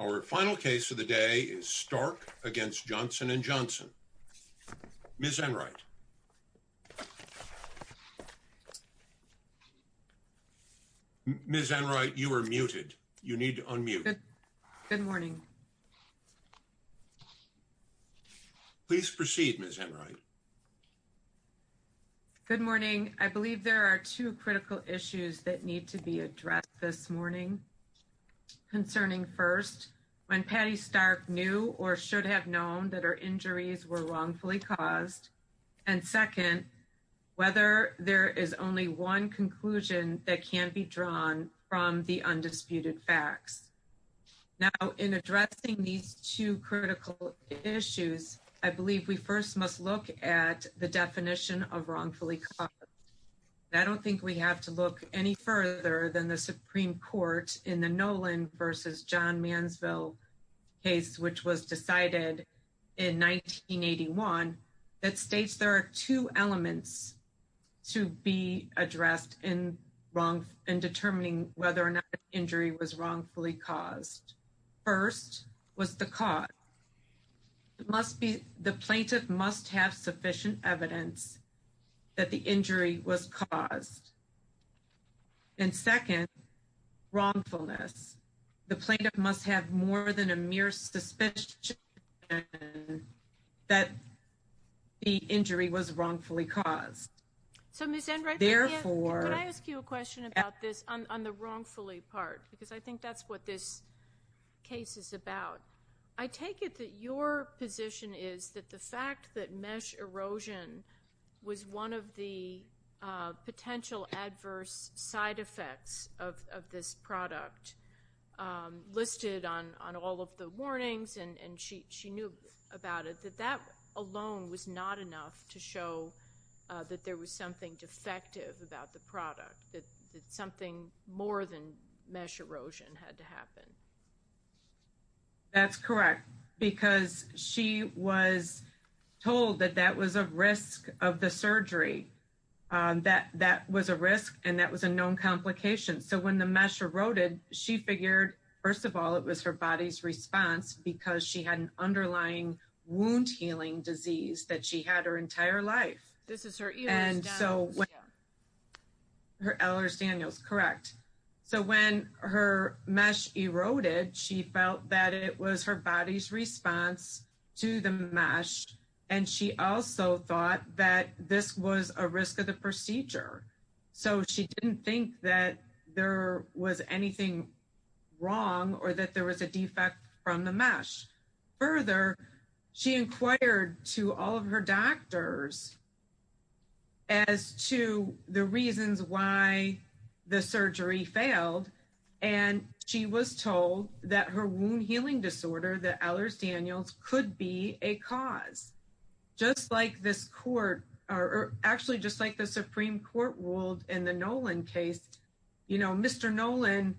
Our final case of the day is Stark v. Johnson & Johnson. Ms. Enright. Ms. Enright, you are muted. You need to unmute. Good morning. Please proceed, Ms. Enright. Good morning. I believe there are two critical issues that need to be addressed this morning concerning first, when Patty Stark knew or should have known that her injuries were wrongfully caused, and second, whether there is only one conclusion that can be drawn from the undisputed facts. Now, in addressing these two critical issues, I believe we first must look at the definition of wrongfully caused. I don't think we have to look any further than the Supreme Court in the Nolan v. John Mansville case, which was decided in 1981, that states there are two elements to be addressed in determining whether or not the injury was wrongfully caused. First was the cause. The plaintiff must have sufficient evidence that the injury was caused. And second, wrongfulness. The plaintiff must have more than a mere suspicion that the injury was wrongfully caused. So, Ms. Enright, could I ask you a question about this on the wrongfully part? Because I think that's what this case is about. I take it that your position is that the fact that mesh erosion was one of the potential adverse side effects of this product listed on all of the warnings, and she knew about it, that that alone was not enough to show that there was something defective about the product, that something more than mesh erosion had to happen. That's correct. Because she was told that that was a risk of the surgery. That was a risk and that was a known complication. So when the mesh eroded, she figured, first of all, it was her body's response because she had an underlying wound healing disease that she had her entire life. This is her Ehlers-Danlos. So when her Ehlers-Danlos, correct. So when her mesh eroded, she felt that it was her body's response to the mesh, and she also thought that this was a risk of the procedure. So she didn't think that there was anything wrong or that there was a defect from the mesh. Further, she inquired to all of her doctors as to the reasons why the surgery failed, and she was told that her wound healing disorder, the Ehlers-Danlos, could be a cause. Just like this court, or actually just like the Supreme Court ruled in the Nolan case, you know, Mr. Nolan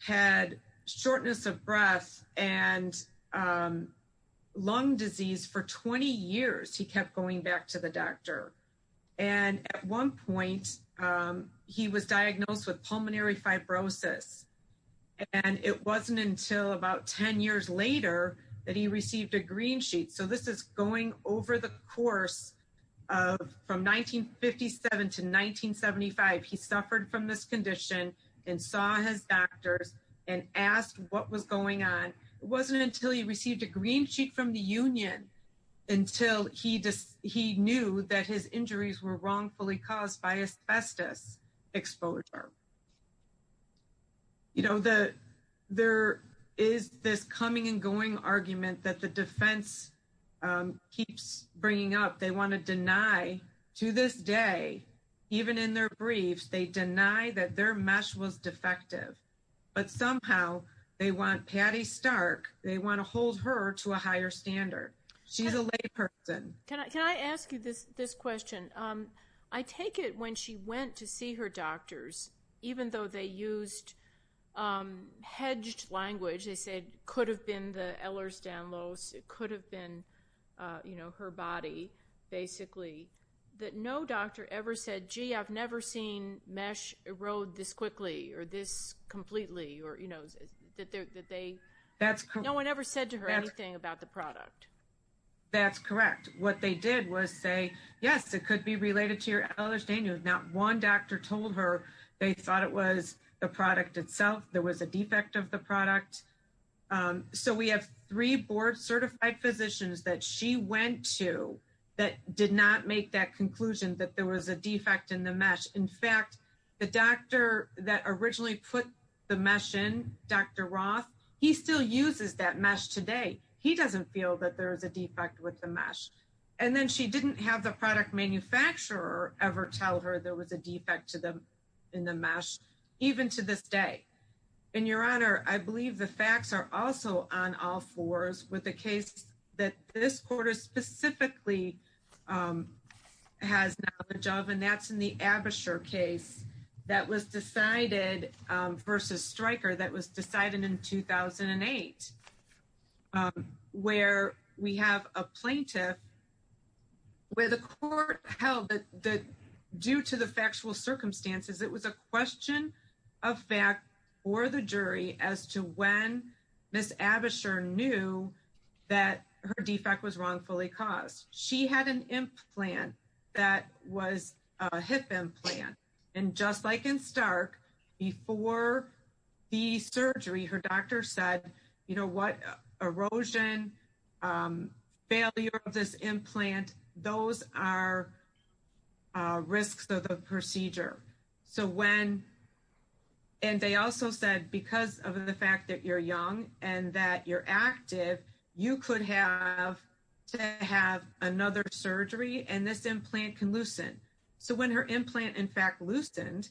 had shortness of lung disease for 20 years. He kept going back to the doctor. And at one point, he was diagnosed with pulmonary fibrosis. And it wasn't until about 10 years later that he received a green sheet. So this is going over the course of from 1957 to 1975. He suffered from this condition and saw his doctors and asked what was going on. It wasn't until he received a green sheet from the union until he knew that his injuries were wrongfully caused by asbestos exposure. You know, there is this coming and going argument that the defense keeps bringing up. They want to deny, to this day, even in their briefs, they deny that their they want to hold her to a higher standard. She's a lay person. Can I ask you this question? I take it when she went to see her doctors, even though they used hedged language, they said could have been the Ehlers-Danlos, it could have been, you know, her body, basically, that no doctor ever said, gee, I've never seen a mesh erode this quickly or this completely, or, you know, that they, no one ever said to her anything about the product. That's correct. What they did was say, yes, it could be related to your Ehlers-Danlos. Not one doctor told her they thought it was the product itself. There was a defect of the product. So we have three board certified physicians that she went to that did not make that conclusion that there was a defect in the mesh. In fact, the doctor that originally put the mesh in, Dr. Roth, he still uses that mesh today. He doesn't feel that there is a defect with the mesh. And then she didn't have the product manufacturer ever tell her there was a defect to them in the mesh, even to this day. And your honor, I believe the facts are also on all fours with the case that this quarter specifically has knowledge of, and that's in the Abisher case that was decided versus Stryker, that was decided in 2008, where we have a plaintiff where the court held that due to the factual circumstances, it was a question of fact for the jury as to when Ms. Abisher knew that her defect was wrongfully caused. She had an implant that was a hip implant. And just like in Stark, before the surgery, her doctor said, you know what, erosion, failure of this implant, those are risks of the procedure. So when, and they also said, because of the fact that you're young and that you're active, you could have to have another surgery and this implant can loosen. So when her implant, in fact, loosened,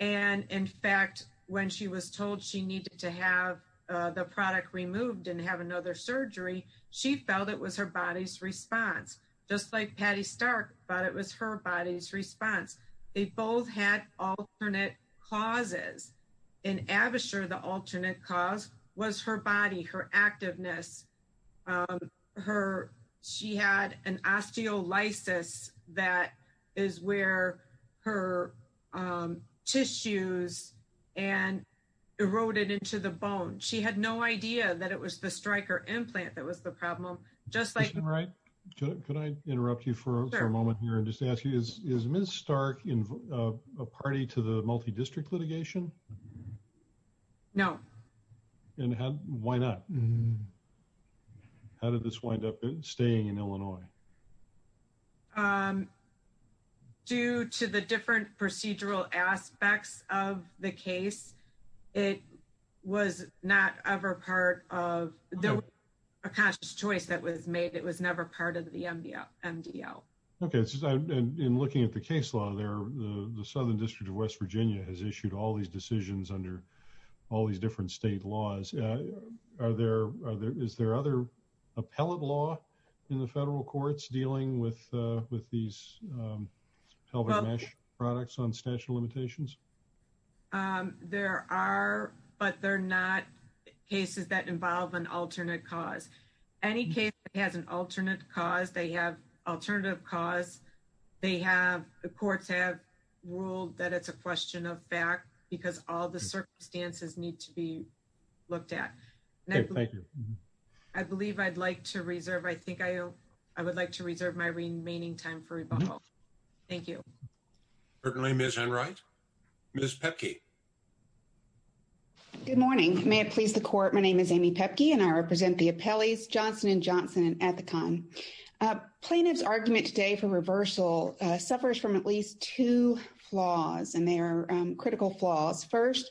and in fact, when she was told she needed to have the product removed and have another surgery, she felt it was her body's response, just like Patty Stark, but it was her body's response. They both had alternate causes. In Abisher, the alternate cause was her body, her activeness, her, she had an osteolysis that is where her tissues and eroded into the bone. She had no idea that it was the Stryker implant that was the problem, just like- Can I interrupt you for a moment here and just ask you, is Ms. Stark a party to the multi-district litigation? No. And how, why not? How did this wind up staying in Illinois? Due to the different procedural aspects of the case, it was not ever part of, there was a conscious choice that was made. It was never part of the MDL. Okay. And in looking at the case law there, the Southern District of West Virginia has issued all these decisions under all these different state laws. Are there, is there other appellate law in the federal courts dealing with these pelvic mesh products on statute of limitations? There are, but they're not applying to just one case. They apply to courts that have an alternate cause. Any case that has an alternate cause, they have alternative cause, they have, the courts have ruled that it's a question of fact because all the circumstances need to be looked at. Okay, thank you. I believe I'd like to reserve, I think I would like to reserve my remaining time for rebuttal. Thank you. Certainly, Ms. Henright. Ms. Pepke. Good morning. May it please the court, my name is Amy Pepke and I represent the appellees Johnson and Johnson and Ethicon. Plaintiff's argument today for reversal suffers from at least two flaws and they are critical flaws. First,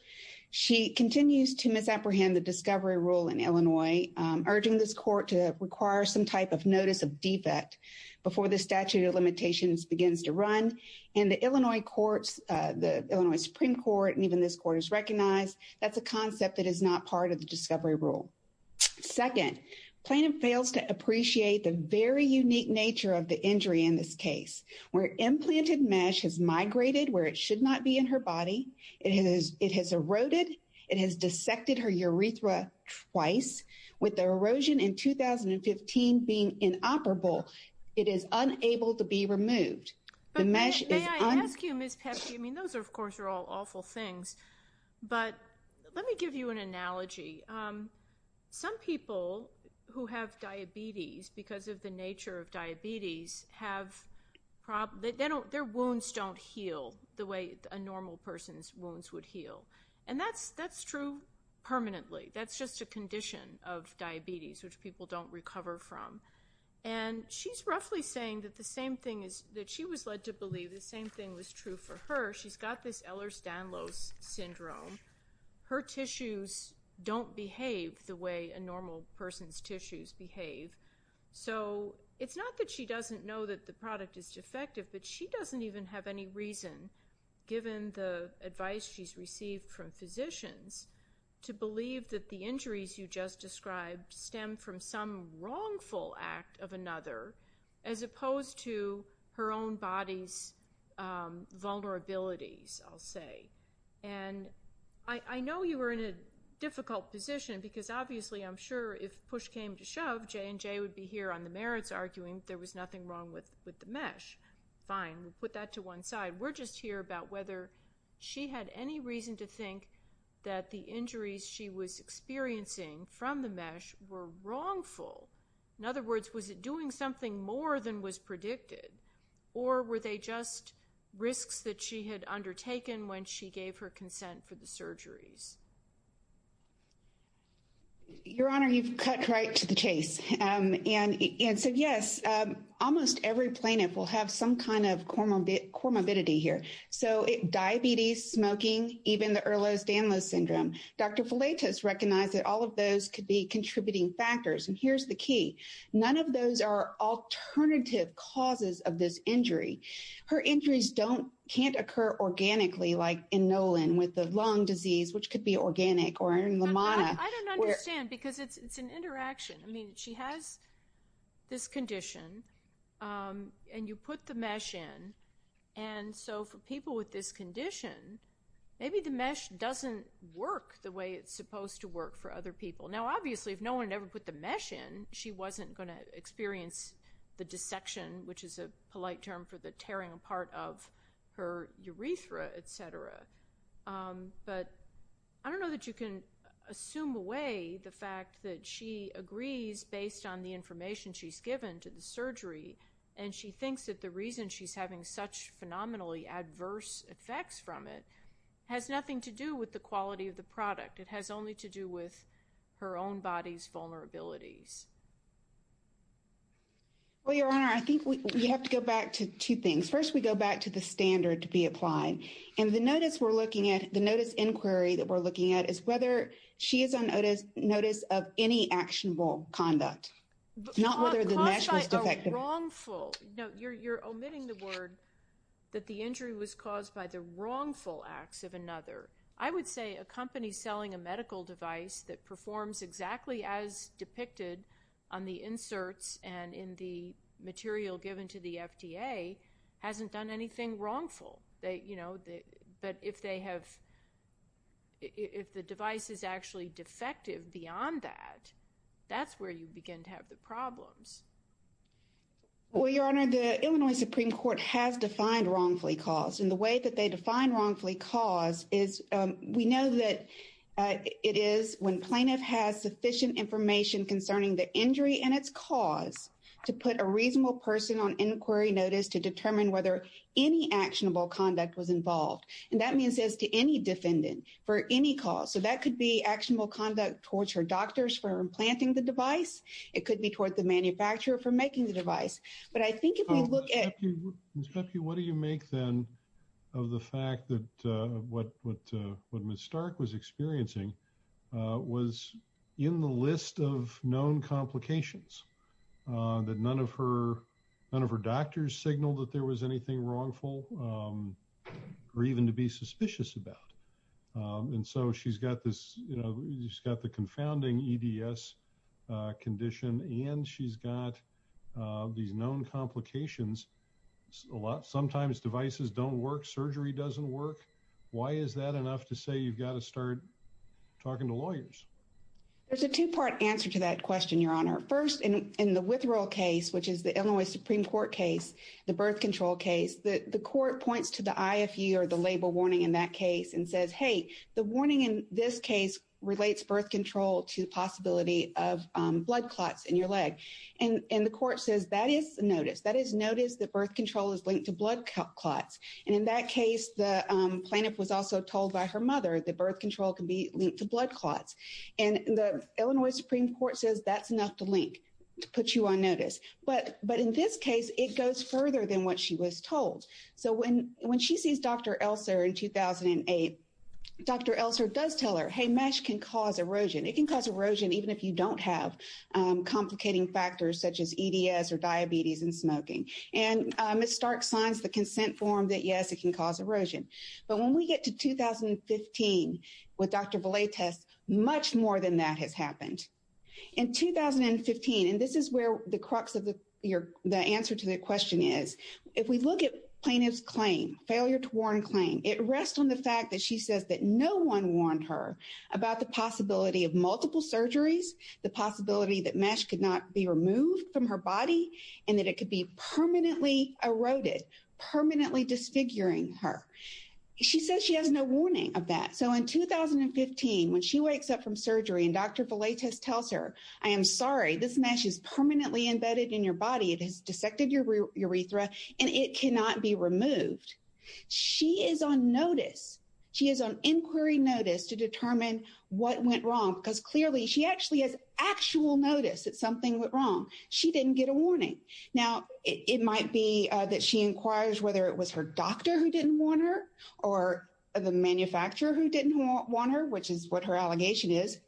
she continues to misapprehend the discovery rule in Illinois, urging this court to require some type of notice of defect before the statute of and the Illinois courts, the Illinois Supreme Court and even this court has recognized that's a concept that is not part of the discovery rule. Second, plaintiff fails to appreciate the very unique nature of the injury in this case where implanted mesh has migrated where it should not be in her body, it has eroded, it has dissected her urethra twice with the erosion in 2015 being inoperable, it is unable to be removed. May I ask you Ms. Pepke, I mean those are of course are all awful things, but let me give you an analogy. Some people who have diabetes because of the nature of diabetes have problems, their wounds don't heal the way a normal person's wounds would heal and that's true permanently. That's just a condition of diabetes which people don't recover from and she's roughly saying that the same thing is that she was led to believe the same thing was true for her. She's got this Ehlers-Danlos syndrome, her tissues don't behave the way a normal person's tissues behave, so it's not that she doesn't know that the product is defective, but she doesn't even have any reason given the advice she's received from physicians to believe that the of another as opposed to her own body's vulnerabilities, I'll say. And I know you were in a difficult position because obviously I'm sure if push came to shove, J&J would be here on the merits arguing there was nothing wrong with the mesh. Fine, we'll put that to one side. We're just here about whether she had any reason to think that the injuries she was experiencing from the mesh were wrongful. In other words, was it doing something more than was predicted or were they just risks that she had undertaken when she gave her consent for the surgeries? Your Honor, you've cut right to the chase and so yes, almost every plaintiff will have some kind of comorbidity here. So diabetes, smoking, even the Ehlers-Danlos syndrome. Dr. Follett has recognized that all of those could be contributing factors and here's the key. None of those are alternative causes of this injury. Her injuries don't, can't occur organically like in Nolan with the lung disease, which could be organic or in Lamanna. I don't understand because it's an interaction. I mean, she has this condition and you put the mesh in and so for people with this Now obviously if no one ever put the mesh in, she wasn't going to experience the dissection, which is a polite term for the tearing apart of her urethra, etc. But I don't know that you can assume away the fact that she agrees based on the information she's given to the surgery and she thinks that the reason she's having such phenomenally adverse effects from it has nothing to do with the quality of the product. It has only to do with her own body's vulnerabilities. Well, Your Honor, I think we have to go back to two things. First, we go back to the standard to be applied and the notice we're looking at, the notice inquiry that we're looking at, is whether she is on notice of any actionable conduct, not whether the mesh was defective. No, you're omitting the word that the injury was caused by the wrongful acts of another. I would say a company selling a medical device that performs exactly as depicted on the inserts and in the material given to the FDA hasn't done anything wrongful. But if the device is actually defective beyond that, that's where you begin to have the problems. Well, Your Honor, the Illinois Supreme Court has defined wrongfully caused. And the way that they define wrongfully caused is we know that it is when plaintiff has sufficient information concerning the injury and its cause to put a reasonable person on inquiry notice to determine whether any actionable conduct was involved. And that means as to any defendant for any cause. So that could be actionable conduct towards her doctors for implanting the device. It could be the manufacturer for making the device. But I think if we look at... Ms. Bepke, what do you make then of the fact that what Ms. Stark was experiencing was in the list of known complications, that none of her doctors signaled that there was anything wrongful or even to be suspicious about. And so she's got this, she's got the confounding EDS condition, and she's got these known complications. Sometimes devices don't work, surgery doesn't work. Why is that enough to say you've got to start talking to lawyers? There's a two-part answer to that question, Your Honor. First, in the withdrawal case, which is the Illinois Supreme Court case, the birth control case, the court points to the IFE or the label warning in that case and says, hey, the warning in this case relates birth control to the possibility of blood clots in your leg. And the court says that is notice. That is notice that birth control is linked to blood clots. And in that case, the plaintiff was also told by her mother that birth control can be linked to blood clots. And the Illinois Supreme Court says that's enough to link, to put you on notice. But in this case, it goes further than what she was told. So when she sees Dr. Elser in 2008, Dr. Elser does tell her, hey, mesh can cause erosion. It can cause erosion even if you don't have complicating factors such as EDS or diabetes and smoking. And Ms. Stark signs the consent form that, yes, it can cause erosion. But when we get to 2015 with Dr. Villates, much more than that has happened. In 2015, and this is where the crux of the answer to the question is, if we look at plaintiff's claim, failure to warn claim, it rests on the fact that she says that no one warned her about the possibility of multiple surgeries, the possibility that mesh could not be removed from her body, and that it could be permanently eroded, permanently disfiguring her. She says she has no warning of that. So in 2015, when she wakes up from surgery and Dr. Villates tells her, I am sorry, this mesh is permanently embedded in your body. It has dissected your urethra, and it cannot be removed. She is on inquiry notice to determine what went wrong, because clearly she actually has actual notice that something went wrong. She didn't get a warning. Now, it might be that she inquires whether it was her doctor who didn't warn her or the manufacturer who didn't warn her, which is what her allegation is.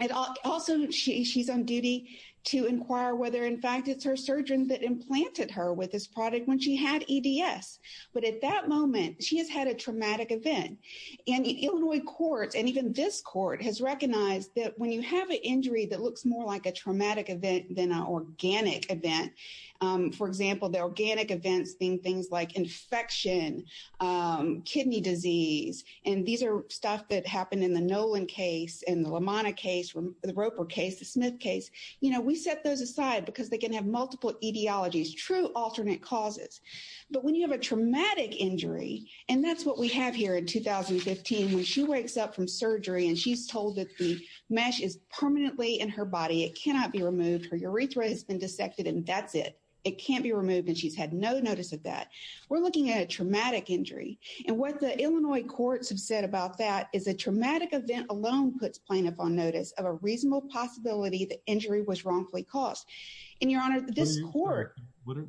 And also, she's on duty to inquire whether, in fact, it's her surgeon that implanted her with this product when she had EDS. But at that moment, she has had a traumatic event. And Illinois courts, and even this court, has recognized that when you have an injury that looks more like a traumatic event than an organic event, for example, the organic events being things like infection, kidney disease, and these are stuff that happened in the Nolan case, in the LaManna case, the Roper case, the Smith case, you know, we set those aside because they can have multiple etiologies, true alternate causes. But when you have a traumatic injury, and that's what we have here in 2015, when she wakes up from surgery, and she's told that the mesh is permanently in her body, it cannot be removed, her urethra has been dissected, and that's it. It can't be removed, and she's had no notice of that. We're looking at a traumatic injury. And what the Illinois courts have said about that is a traumatic event alone puts plaintiff on notice of a reasonable possibility that injury was wrongfully caused. And, Your Honor, this court... in which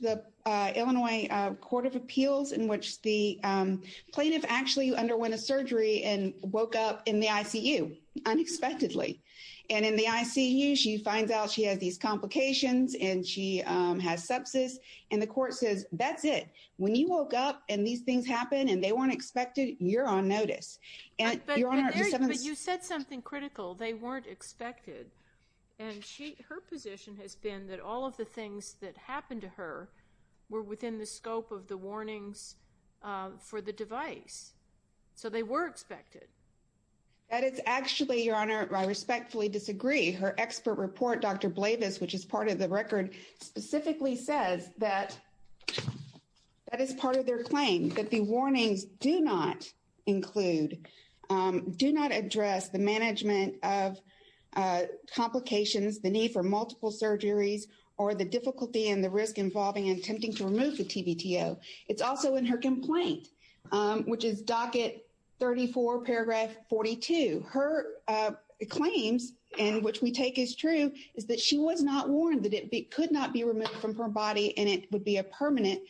the Illinois Court of Appeals, in which the plaintiff actually underwent a surgery and woke up in the ICU, unexpectedly. And in the ICU, she finds out she has these complications, and she has sepsis, and the court says, that's it. When you woke up, and these things happen, and they weren't expected, you're on notice. And, Your Honor... But you said something critical. They weren't expected. And her position has been that all of the things that happened to her were within the scope of the warnings for the device. So they were expected. That is actually, Your Honor, I respectfully disagree. Her expert report, Dr. Blavis, which is part of the record, specifically says that that is part of their claim, that the warnings do not include, do not address the management of complications, the need for multiple surgeries, or the difficulty and the risk involving attempting to remove the TBTO. It's also in her complaint, which is docket 34, paragraph 42. Her claims, and which we take as true, is that she was not warned that it could not be removed from her body, and it would be a permanent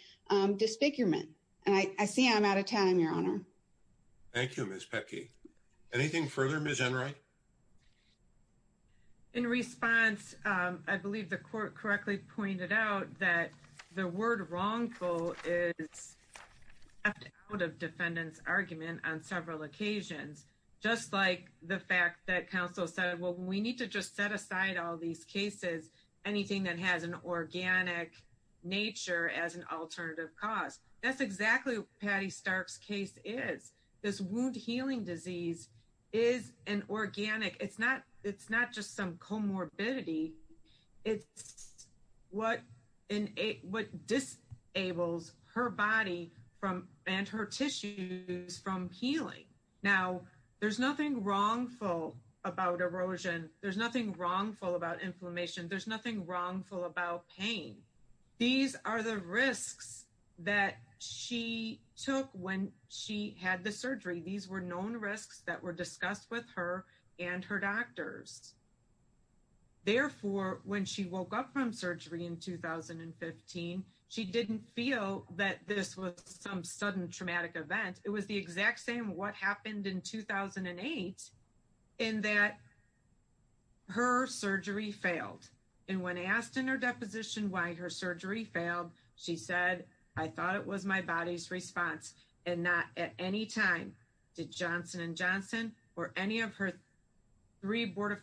disfigurement. And I see I'm out of time, Your Honor. Thank you, Ms. Pecky. Anything further, Ms. Enright? In response, I believe the court correctly pointed out that the word wrongful is left out of defendant's argument on several occasions. Just like the fact that counsel said, well, we need to just set aside all these cases, anything that has an organic nature as an alternative cause. That's exactly what Patty Stark's case is. This wound healing disease is an organic. It's not just some comorbidity. It's what disables her body and her tissues from healing. Now, there's nothing wrongful about erosion. There's nothing wrongful about inflammation. There's nothing wrongful about pain. These are the risks that she took when she had the surgery. These were known risks that were discussed with her and her doctors. Therefore, when she woke up from surgery in 2015, she didn't feel that this was some sudden traumatic event. It was the exact same what happened in 2008 in that her surgery failed. And when asked in her deposition why her surgery failed, she said, I thought it was my body's response and not at any time did Johnson & Johnson or any of her three board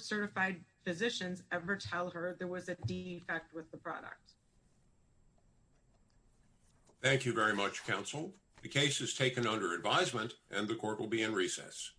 certified physicians ever tell her there was a defect with the product. Thank you very much, counsel. The case is taken under advisement and the court will be in recess.